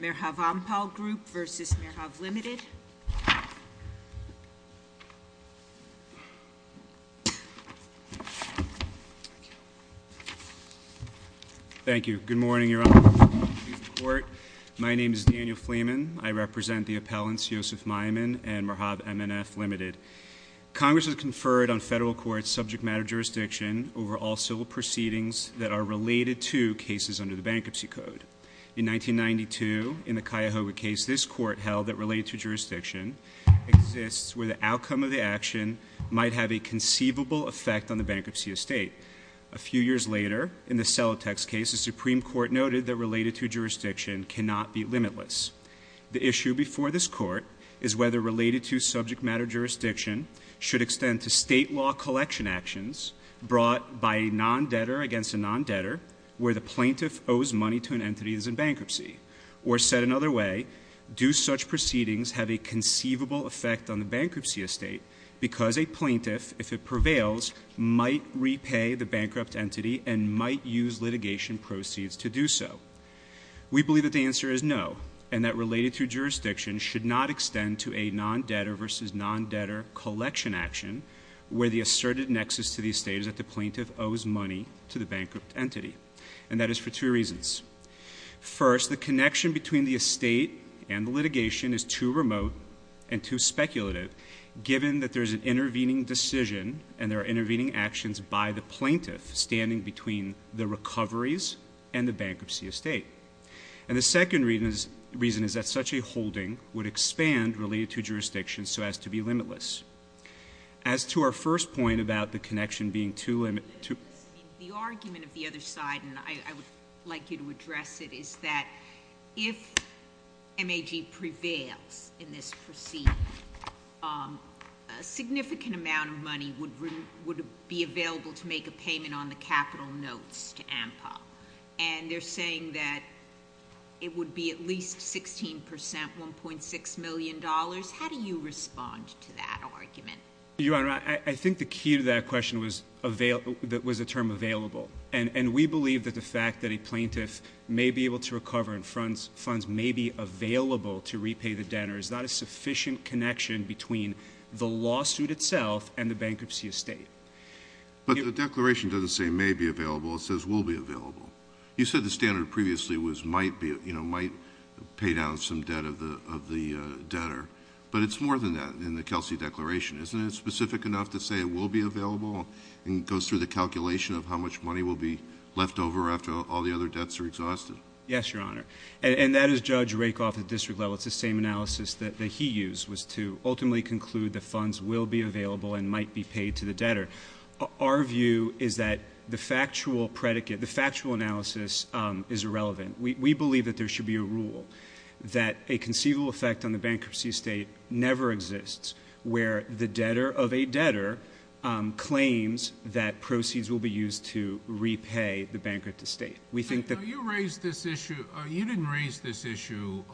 Merhav Ampal Group vs. Merhav Ltd. Thank you. Good morning, Your Honor. My name is Daniel Fleeman. I represent the appellants Yosef Maiman and Merhav MNF Ltd. Congress has conferred on federal courts subject matter jurisdiction over all civil proceedings that are related to cases under the Bankruptcy Code. In 1992, in the Cuyahoga case, this court held that related to jurisdiction exists where the outcome of the action might have a conceivable effect on the bankruptcy of state. A few years later, in the Celotex case, the Supreme Court noted that related to jurisdiction cannot be limitless. The issue before this court is whether related to subject matter jurisdiction should extend to state law collection actions brought by a non-debtor against a non-debtor where the plaintiff owes money to an entity that is in bankruptcy. Or said another way, do such proceedings have a conceivable effect on the bankruptcy of state because a plaintiff, if it prevails, might repay the bankrupt entity and might use litigation proceeds to do so? We believe that the answer is no, and that related to jurisdiction should not extend to a non-debtor vs. non-debtor collection action where the asserted nexus to the estate is that the plaintiff owes money to the bankrupt entity. And that is for two reasons. First, the connection between the estate and the litigation is too remote and too speculative given that there is an intervening decision and there are intervening actions by the plaintiff standing between the recoveries and the bankruptcy of state. And the second reason is that such a holding would expand related to jurisdiction so as to be limitless. As to our first point about the connection being too limited... The argument of the other side, and I would like you to address it, is that if MAG prevails in this proceeding, a significant amount of money would be available to make a payment on the capital notes to AMPA. And they're saying that it would be at least 16%, $1.6 million. How do you respond to that argument? Your Honor, I think the key to that question was the term available. And we believe that the fact that a plaintiff may be able to recover and funds may be available to repay the debtor is not a sufficient connection between the lawsuit itself and the bankruptcy of state. But the declaration doesn't say may be available, it says will be available. You said the standard previously was might pay down some debt of the debtor. But it's more than that in the Kelsey Declaration. Isn't it specific enough to say it will be available? And it goes through the calculation of how much money will be left over after all the other debts are exhausted. Yes, Your Honor. And that is Judge Rakoff at district level. It's the same analysis that he used was to ultimately conclude the funds will be available and might be paid to the debtor. Our view is that the factual predicate, the factual analysis is irrelevant. We believe that there should be a rule that a conceivable effect on the bankruptcy of state never exists where the debtor of a debtor claims that proceeds will be used to repay the bankrupt of state. We think that... You raised this issue. You didn't raise this issue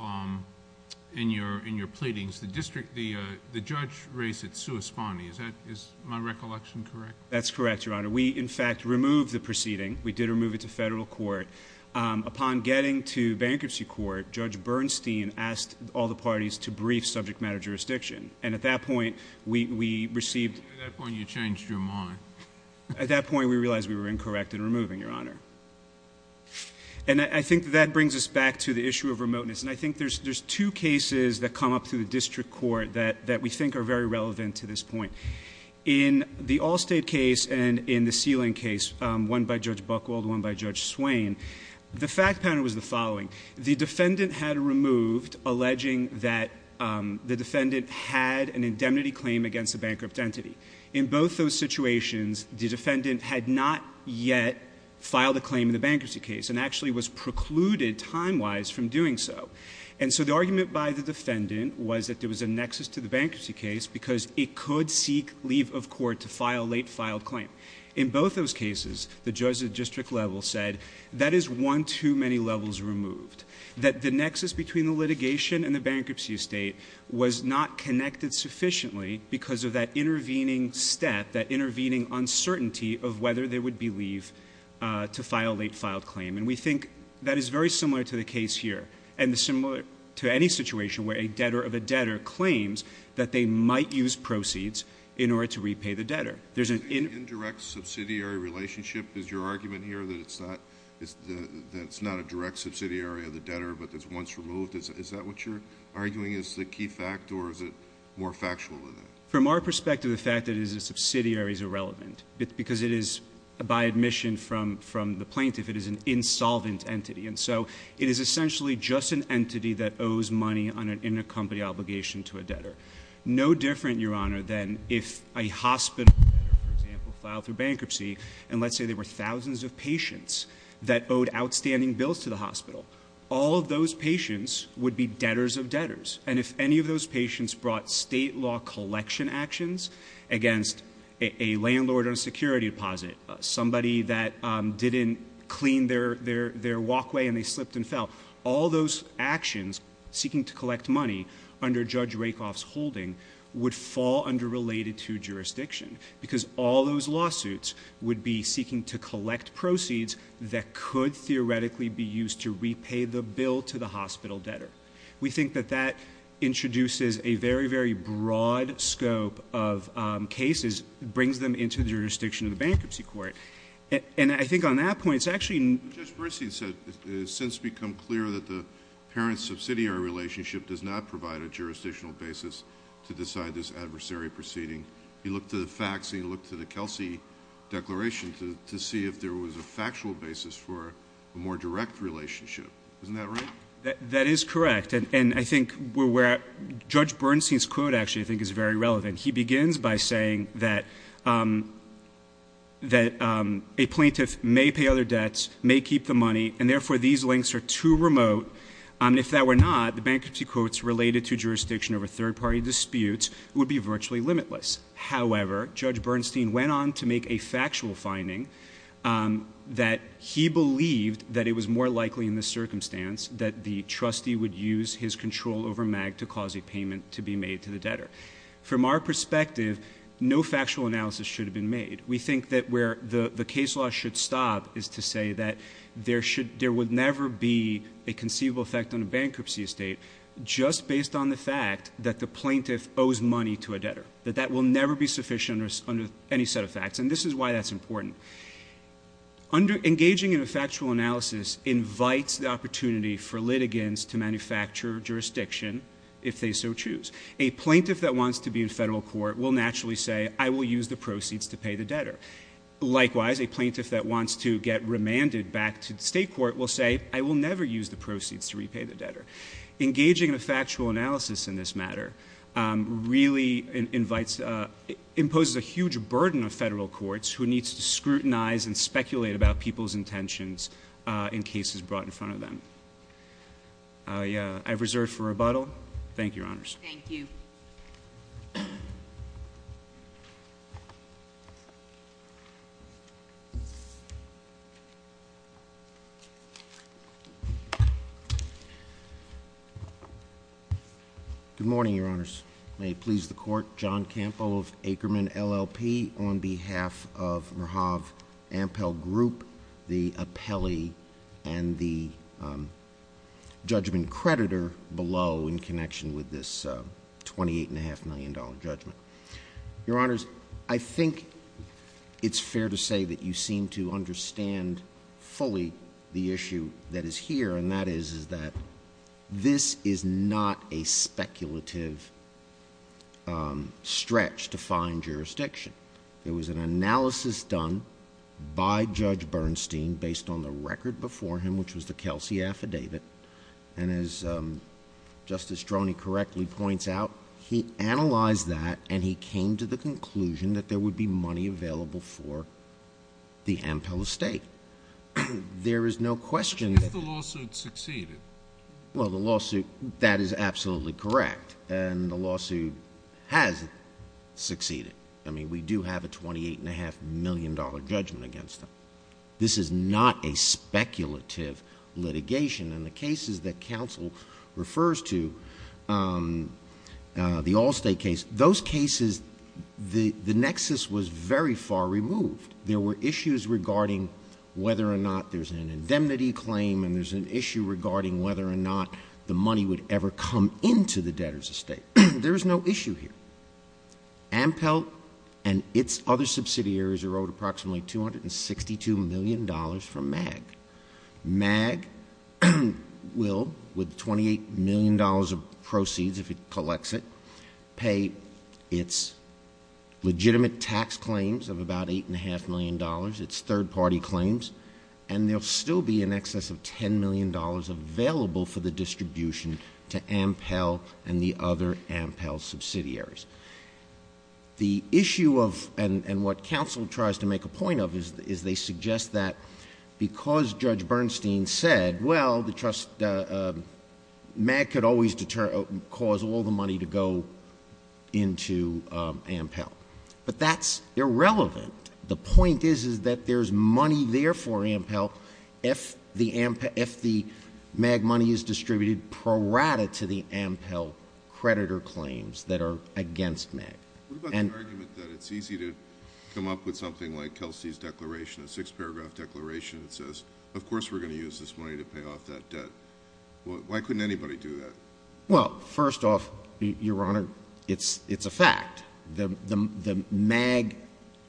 in your pleadings. The district, the judge raised it sui spani. Is my recollection correct? That's correct, Your Honor. We, in fact, removed the proceeding. We did remove it to federal court. Upon getting to bankruptcy court, Judge Bernstein asked all the parties to brief subject matter jurisdiction. And at that point, we received... At that point, you changed your mind. At that point, we realized we were incorrect in removing, Your Honor. And I think that brings us back to the issue of remoteness. And I think there's two cases that come up through the district court that we think are very relevant to this point. In the Allstate case and in the Sealing case, one by Judge Buchwald, one by Judge Swain, the fact pattern was the following. The defendant had removed alleging that the defendant had an indemnity claim against a bankrupt entity. In both those situations, the defendant had not yet filed a claim in the bankruptcy case and actually was precluded time-wise from doing so. And so, the argument by the defendant was that there was a nexus to the bankruptcy case because it could seek leave of court to file a late filed claim. In both those cases, the judge at the district level said that is one too many levels removed. That the nexus between the litigation and the bankruptcy estate was not connected sufficiently because of that intervening step, that intervening uncertainty of whether there would be leave to file a late filed claim. And we think that is very similar to the case here. And similar to any situation where a debtor of a debtor claims that they might use proceeds in order to repay the debtor. There's an indirect subsidiary relationship, is your argument here, that it's not a direct subsidiary of the debtor but that's once removed? Is that what you're arguing is the key fact or is it more factual than that? From our perspective, the fact that it is a subsidiary is irrelevant because it is, by admission from the plaintiff, it is an insolvent entity. And so, it is essentially just an entity that owes money on an intercompany obligation to a debtor. No different, your honor, than if a hospital, for example, filed for bankruptcy. And let's say there were thousands of patients that owed outstanding bills to the hospital. All of those patients would be debtors of debtors. And if any of those patients brought state law collection actions against a landlord on a security deposit, somebody that didn't clean their walkway and they slipped and fell, all those actions seeking to collect money under Judge Rakoff's holding would fall under related to jurisdiction. Because all those lawsuits would be seeking to collect proceeds that could theoretically be used to repay the bill to the hospital debtor. We think that that introduces a very, very broad scope of cases. It brings them into the jurisdiction of the bankruptcy court. And I think on that point, it's actually- Judge Persi has since become clear that the parent subsidiary relationship does not provide a jurisdictional basis to decide this adversary proceeding. He looked to the facts and he looked to the Kelsey Declaration to see if there was a factual basis for a more direct relationship. Isn't that right? That is correct. And I think where Judge Bernstein's quote actually I think is very relevant. He begins by saying that a plaintiff may pay other debts, may keep the money, and therefore these links are too remote. And if that were not, the bankruptcy courts related to jurisdiction over third party disputes would be virtually limitless. However, Judge Bernstein went on to make a factual finding that he believed that it was more likely in this circumstance that the trustee would use his control over MAG to cause a payment to be made to the debtor. From our perspective, no factual analysis should have been made. We think that where the case law should stop is to say that there would never be a conceivable effect on a bankruptcy estate just based on the fact that the plaintiff owes money to a debtor. That that will never be sufficient under any set of facts. And this is why that's important. Engaging in a factual analysis invites the opportunity for litigants to manufacture jurisdiction if they so choose. A plaintiff that wants to be in federal court will naturally say, I will use the proceeds to pay the debtor. Likewise, a plaintiff that wants to get remanded back to the state court will say, I will never use the proceeds to repay the debtor. Engaging in a factual analysis in this matter really invites, imposes a huge burden of federal courts who need to scrutinize and speculate about people's intentions in cases brought in front of them. I've reserved for rebuttal. Thank you, Your Honors. Thank you. Good morning, Your Honors. May it please the court, John Campo of Ackerman LLP on behalf of Merhav Ampel Group, the appellee and the judgment creditor below in connection with this $28.5 million judgment. Your Honors, I think it's fair to say that you seem to understand fully the issue that is here. And that is, is that this is not a speculative stretch to find jurisdiction. It was an analysis done by Judge Bernstein based on the record before him, which was the Kelsey affidavit. And as Justice Droney correctly points out, he analyzed that and he came to the conclusion that there would be money available for the Ampel estate. There is no question. If the lawsuit succeeded. Well, the lawsuit, that is absolutely correct. And the lawsuit has succeeded. I mean, we do have a $28.5 million judgment against them. This is not a speculative litigation. And the cases that counsel refers to, the Allstate case, those cases, the nexus was very far removed. There were issues regarding whether or not there's an indemnity claim and there's an issue regarding whether or not the money would ever come into the debtor's estate. There is no issue here. Ampel and its other subsidiaries are owed approximately $262 million from MAG. MAG will, with $28 million of proceeds if it collects it, pay its legitimate tax claims of about $8.5 million, its third party claims. And there'll still be in excess of $10 million available for the distribution to Ampel and the other Ampel subsidiaries. The issue of, and what counsel tries to make a point of, is they suggest that because Judge Bernstein said, well, the trust, MAG could always cause all the money to go into Ampel. But that's irrelevant. The point is that there's money there for Ampel if the MAG money is distributed prorata to the Ampel creditor claims that are against MAG. What about the argument that it's easy to come up with something like Kelsey's declaration, a six-paragraph declaration that says, of course we're going to use this money to pay off that debt. Why couldn't anybody do that? Well, first off, Your Honor, it's a fact. MAG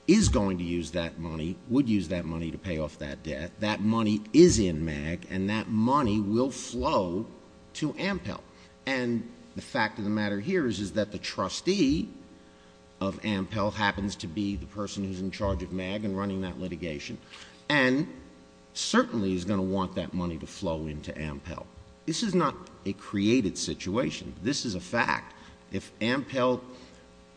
is going to use that money, would use that money to pay off that debt. That money is in MAG, and that money will flow to Ampel. And the fact of the matter here is that the trustee of Ampel happens to be the person who's in charge of MAG and running that litigation, and certainly is going to want that money to flow into Ampel. This is not a created situation. This is a fact. If Ampel,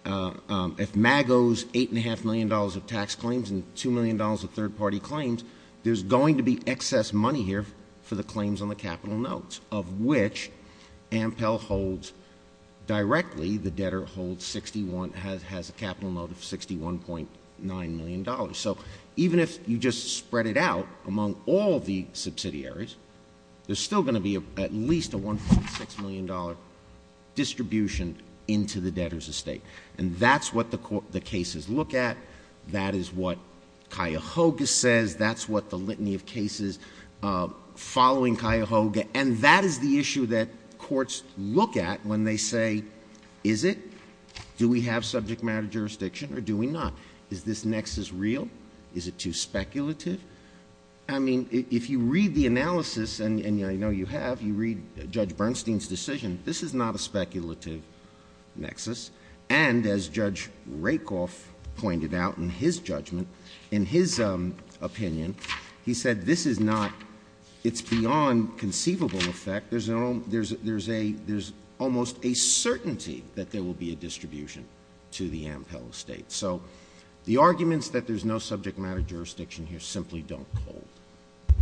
if MAG owes $8.5 million of tax claims and $2 million of third-party claims, there's going to be excess money here for the claims on the capital notes, of which Ampel holds directly, the debtor has a capital note of $61.9 million. So even if you just spread it out among all the subsidiaries, there's still going to be at least a $1.6 million distribution into the debtor's estate. And that's what the cases look at. That is what Cuyahoga says. That's what the litany of cases following Cuyahoga. And that is the issue that courts look at when they say, is it? Do we have subject matter jurisdiction or do we not? Is this nexus real? Is it too speculative? I mean, if you read the analysis, and I know you have, you read Judge Bernstein's decision, this is not a speculative nexus. And as Judge Rakoff pointed out in his judgment, in his opinion, he said this is not It's beyond conceivable effect. There's almost a certainty that there will be a distribution to the Ampel estate. So the arguments that there's no subject matter jurisdiction here simply don't hold.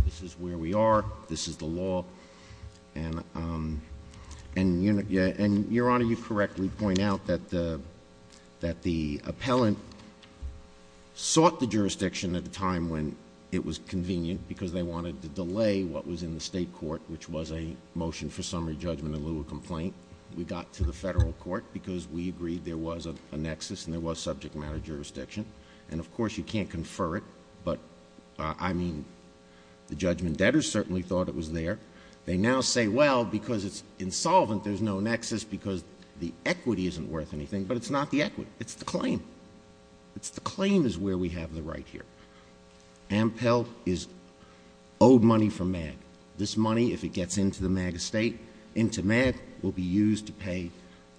This is where we are. This is the law. And, Your Honor, you correctly point out that the appellant sought the jurisdiction at the time when it was convenient because they wanted to delay what was in the state court, which was a motion for summary judgment in lieu of complaint. We got to the federal court because we agreed there was a nexus and there was subject matter jurisdiction. And, of course, you can't confer it. But, I mean, the judgment debtors certainly thought it was there. They now say, well, because it's insolvent, there's no nexus because the equity isn't worth anything. But it's not the equity. It's the claim. It's the claim is where we have the right here. Ampel is owed money from MAG. This money, if it gets into the MAG estate, into MAG, will be used to pay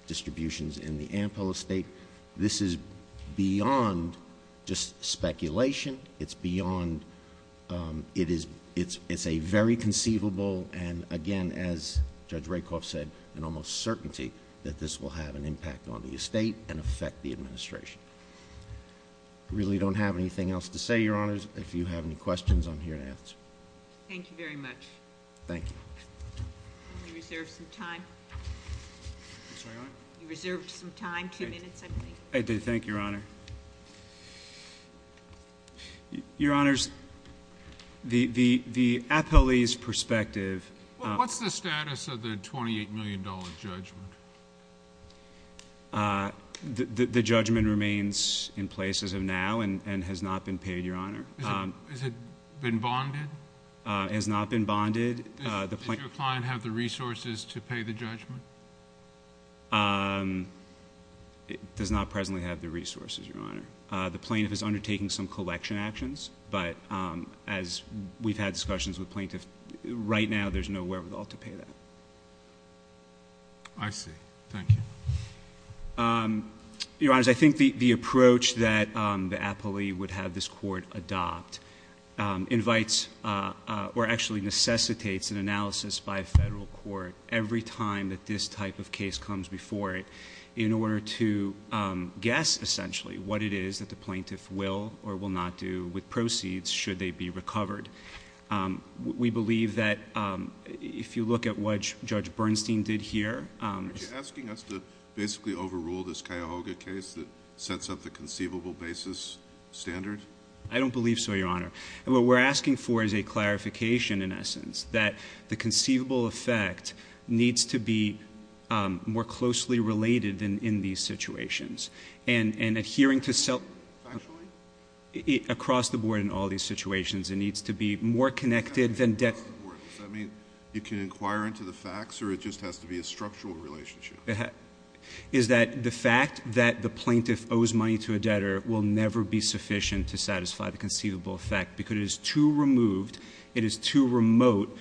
distributions in the Ampel estate. This is beyond just speculation. It's beyond — it's a very conceivable and, again, as Judge Rakoff said, an almost certainty that this will have an impact on the estate and affect the administration. I really don't have anything else to say, Your Honors. If you have any questions, I'm here to answer. Thank you very much. Thank you. You reserved some time. You reserved some time. Two minutes, I believe. I do. Thank you, Your Honor. Your Honors, the Appellee's perspective — What's the status of the $28 million judgment? The judgment remains in place as of now and has not been paid, Your Honor. Has it been bonded? It has not been bonded. Does your client have the resources to pay the judgment? It does not presently have the resources, Your Honor. The plaintiff is undertaking some collection actions. But as we've had discussions with plaintiffs, right now there's nowhere at all to pay that. I see. Thank you. Your Honors, I think the approach that the appellee would have this court adopt invites or actually necessitates an analysis by a federal court every time that this type of case comes before it in order to guess essentially what it is that the plaintiff will or will not do with proceeds should they be recovered. We believe that if you look at what Judge Bernstein did here — Are you asking us to basically overrule this Cuyahoga case that sets up the conceivable basis standard? I don't believe so, Your Honor. What we're asking for is a clarification, in essence, that the conceivable effect needs to be more closely related in these situations. And adhering to self- Factually? Across the board in all these situations, it needs to be more connected than debt. Does that mean you can inquire into the facts or it just has to be a structural relationship? Is that the fact that the plaintiff owes money to a debtor will never be sufficient to satisfy the conceivable effect because it is too removed, it is too remote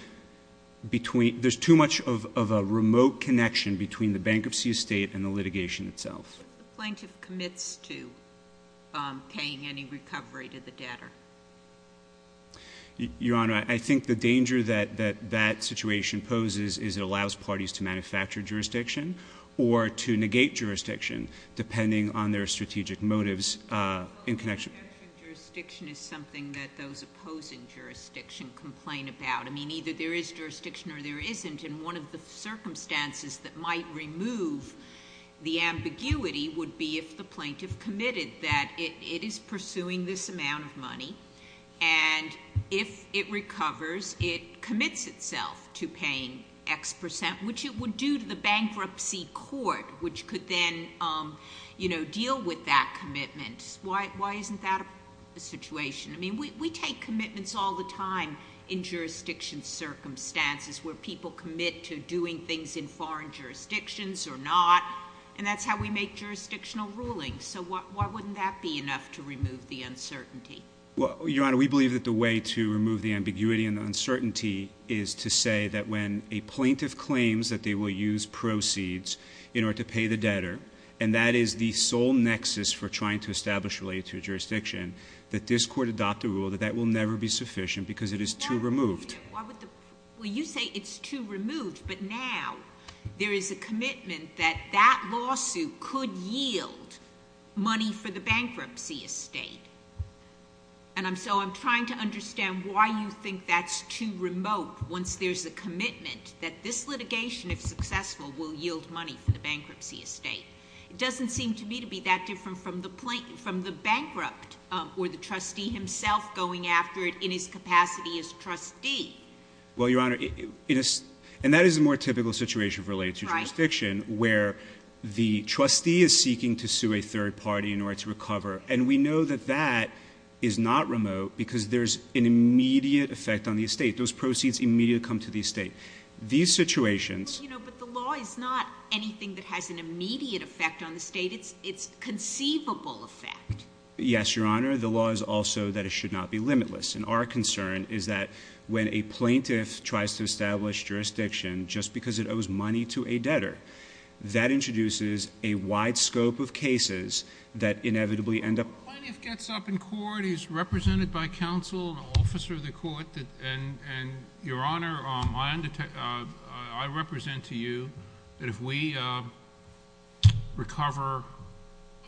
between — there's too much of a remote connection between the bankruptcy estate and the litigation itself. What if the plaintiff commits to paying any recovery to the debtor? Your Honor, I think the danger that that situation poses is it allows parties to manufacture jurisdiction or to negate jurisdiction depending on their strategic motives in connection — Well, manufactured jurisdiction is something that those opposing jurisdiction complain about. I mean, either there is jurisdiction or there isn't, and one of the circumstances that might remove the ambiguity would be if the plaintiff committed that it is pursuing this amount of money, and if it recovers, it commits itself to paying X percent, which it would do to the bankruptcy court, which could then deal with that commitment. Why isn't that a situation? I mean, we take commitments all the time in jurisdiction circumstances where people commit to doing things in foreign jurisdictions or not, and that's how we make jurisdictional rulings. So why wouldn't that be enough to remove the uncertainty? Well, Your Honor, we believe that the way to remove the ambiguity and uncertainty is to say that when a plaintiff claims that they will use proceeds in order to pay the debtor, and that is the sole nexus for trying to establish related jurisdiction, that this Court adopt a rule that that will never be sufficient because it is too removed. Well, you say it's too removed, but now there is a commitment that that lawsuit could yield money for the bankruptcy estate, and so I'm trying to understand why you think that's too remote once there's a commitment that this litigation, if successful, will yield money for the bankruptcy estate. It doesn't seem to me to be that different from the bankrupt or the trustee himself going after it in his capacity as trustee. Well, Your Honor, and that is a more typical situation related to jurisdiction where the trustee is seeking to sue a third party in order to recover, and we know that that is not remote because there's an immediate effect on the estate. Those proceeds immediately come to the estate. These situations... But the law is not anything that has an immediate effect on the estate. It's conceivable effect. Yes, Your Honor. The law is also that it should not be limitless, and our concern is that when a plaintiff tries to establish jurisdiction just because it owes money to a debtor, that introduces a wide scope of cases that inevitably end up... When a plaintiff gets up in court, he's represented by counsel, an officer of the court, Your Honor, I represent to you that if we recover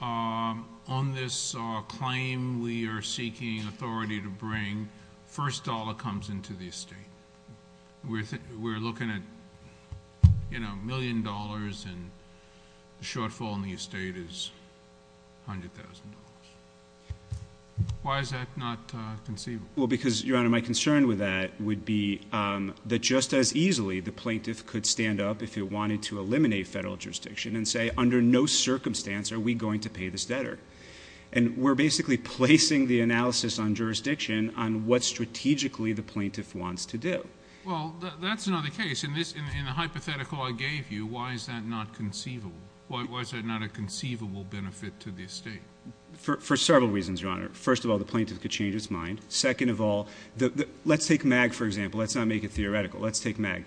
on this claim we are seeking authority to bring, the first dollar comes into the estate. We're looking at a million dollars, and the shortfall in the estate is $100,000. Why is that not conceivable? Because, Your Honor, my concern with that would be that just as easily the plaintiff could stand up if he wanted to eliminate federal jurisdiction and say, under no circumstance are we going to pay this debtor. And we're basically placing the analysis on jurisdiction on what strategically the plaintiff wants to do. Well, that's another case. In the hypothetical I gave you, why is that not conceivable? Why is that not a conceivable benefit to the estate? For several reasons, Your Honor. First of all, the plaintiff could change his mind. Second of all, let's take MAG, for example. Let's not make it theoretical. Let's take MAG.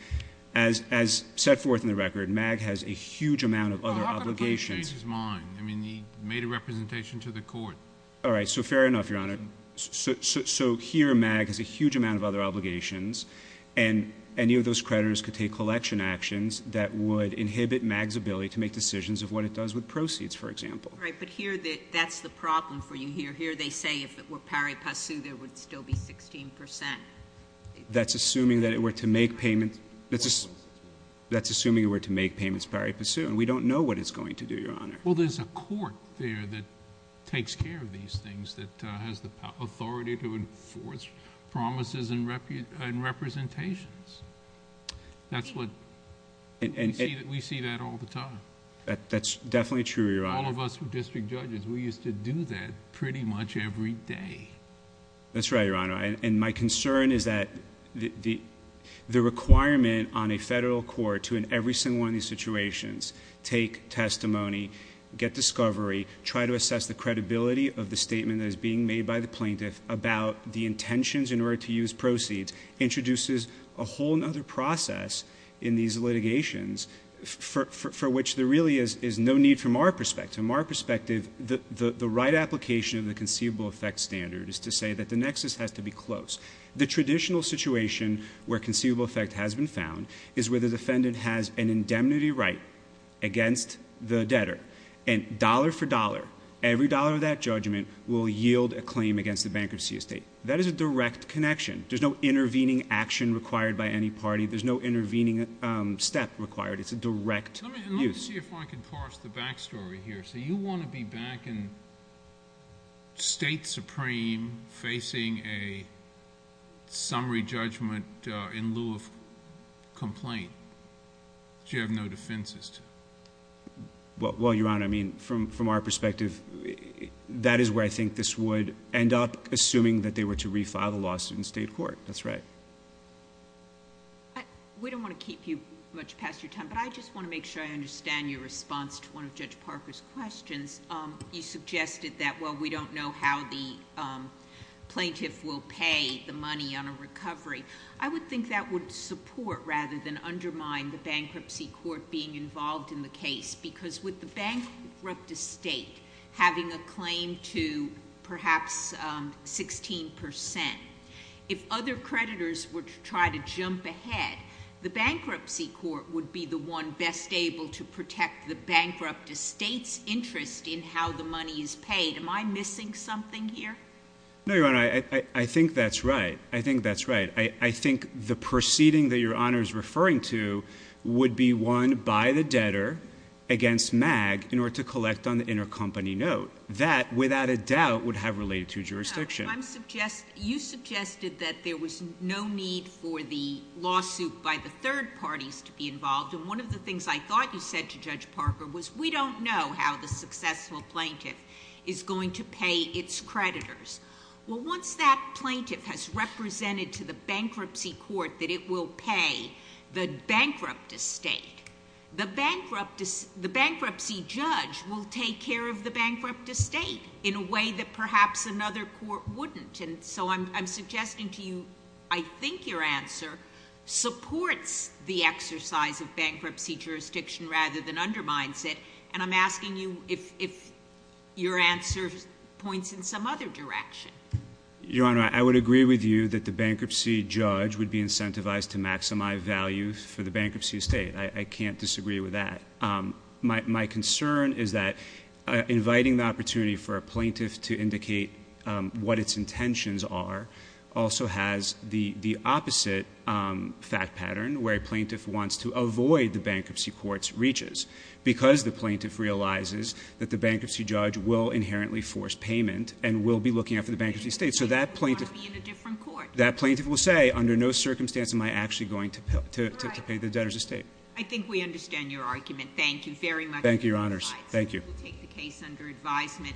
As set forth in the record, MAG has a huge amount of other obligations. Well, how could a plaintiff change his mind? I mean, he made a representation to the court. All right. So fair enough, Your Honor. So here MAG has a huge amount of other obligations, and any of those creditors could take collection actions that would inhibit MAG's ability to make decisions of what it does with proceeds, for example. All right. But here that's the problem for you here. They say if it were pari passu, there would still be sixteen percent. That's assuming that it were to make payments... Four percent. That's assuming it were to make payments pari passu, and we don't know what it's going to do, Your Honor. Well, there's a court there that takes care of these things, that has the authority to enforce promises and representations. That's what... And... We see that all the time. That's definitely true, Your Honor. All of us who are district judges, we used to do that pretty much every day. That's right, Your Honor. And my concern is that the requirement on a federal court to, in every single one of these situations, take testimony, get discovery, try to assess the credibility of the statement that is being made by the plaintiff about the intentions in order to use proceeds, introduces a whole other process in these litigations for which there really is no need from our perspective. From our perspective, the right application of the conceivable effect standard is to say that the nexus has to be close. The traditional situation where conceivable effect has been found is where the defendant has an indemnity right against the debtor. And dollar for dollar, every dollar of that judgment will yield a claim against the bankruptcy estate. That is a direct connection. There's no intervening action required by any party. There's no intervening step required. It's a direct use. Let me see if I can parse the back story here. So you want to be back in State Supreme facing a summary judgment in lieu of complaint. Do you have no defenses to that? Well, Your Honor, I mean, from our perspective, that is where I think this would end up, assuming that they were to refile the lawsuit in state court. That's right. We don't want to keep you much past your time, but I just want to make sure I understand your response to one of Judge Parker's questions. You suggested that while we don't know how the plaintiff will pay the money on a recovery, I would think that would support rather than undermine the bankruptcy court being involved in the case, because with the bankrupt estate having a claim to perhaps 16 percent, if other creditors were to try to jump ahead, the bankruptcy court would be the one best able to protect the bankrupt estate's interest in how the money is paid. Am I missing something here? No, Your Honor. I think that's right. I think that's right. I think the proceeding that Your Honor is referring to would be won by the debtor against MAG in order to collect on the intercompany note. That, without a doubt, would have related to jurisdiction. You suggested that there was no need for the lawsuit by the third parties to be involved, and one of the things I thought you said to Judge Parker was we don't know how the successful plaintiff is going to pay its creditors. Well, once that plaintiff has represented to the bankruptcy court that it will pay the bankrupt estate, the bankruptcy judge will take care of the bankrupt estate in a way that perhaps another court wouldn't, and so I'm suggesting to you I think your answer supports the exercise of bankruptcy jurisdiction rather than undermines it, and I'm asking you if your answer points in some other direction. Your Honor, I would agree with you that the bankruptcy judge would be incentivized to maximize value for the bankruptcy estate. I can't disagree with that. My concern is that inviting the opportunity for a plaintiff to indicate what its intentions are also has the opposite fact pattern where a plaintiff wants to avoid the bankruptcy court's reaches because the plaintiff realizes that the bankruptcy judge will inherently force payment and will be looking after the bankruptcy estate, so that plaintiff will say, under no circumstance am I actually going to pay the debtors' estate. I think we understand your argument. Thank you very much. Thank you, Your Honors. We'll take the case under advisement.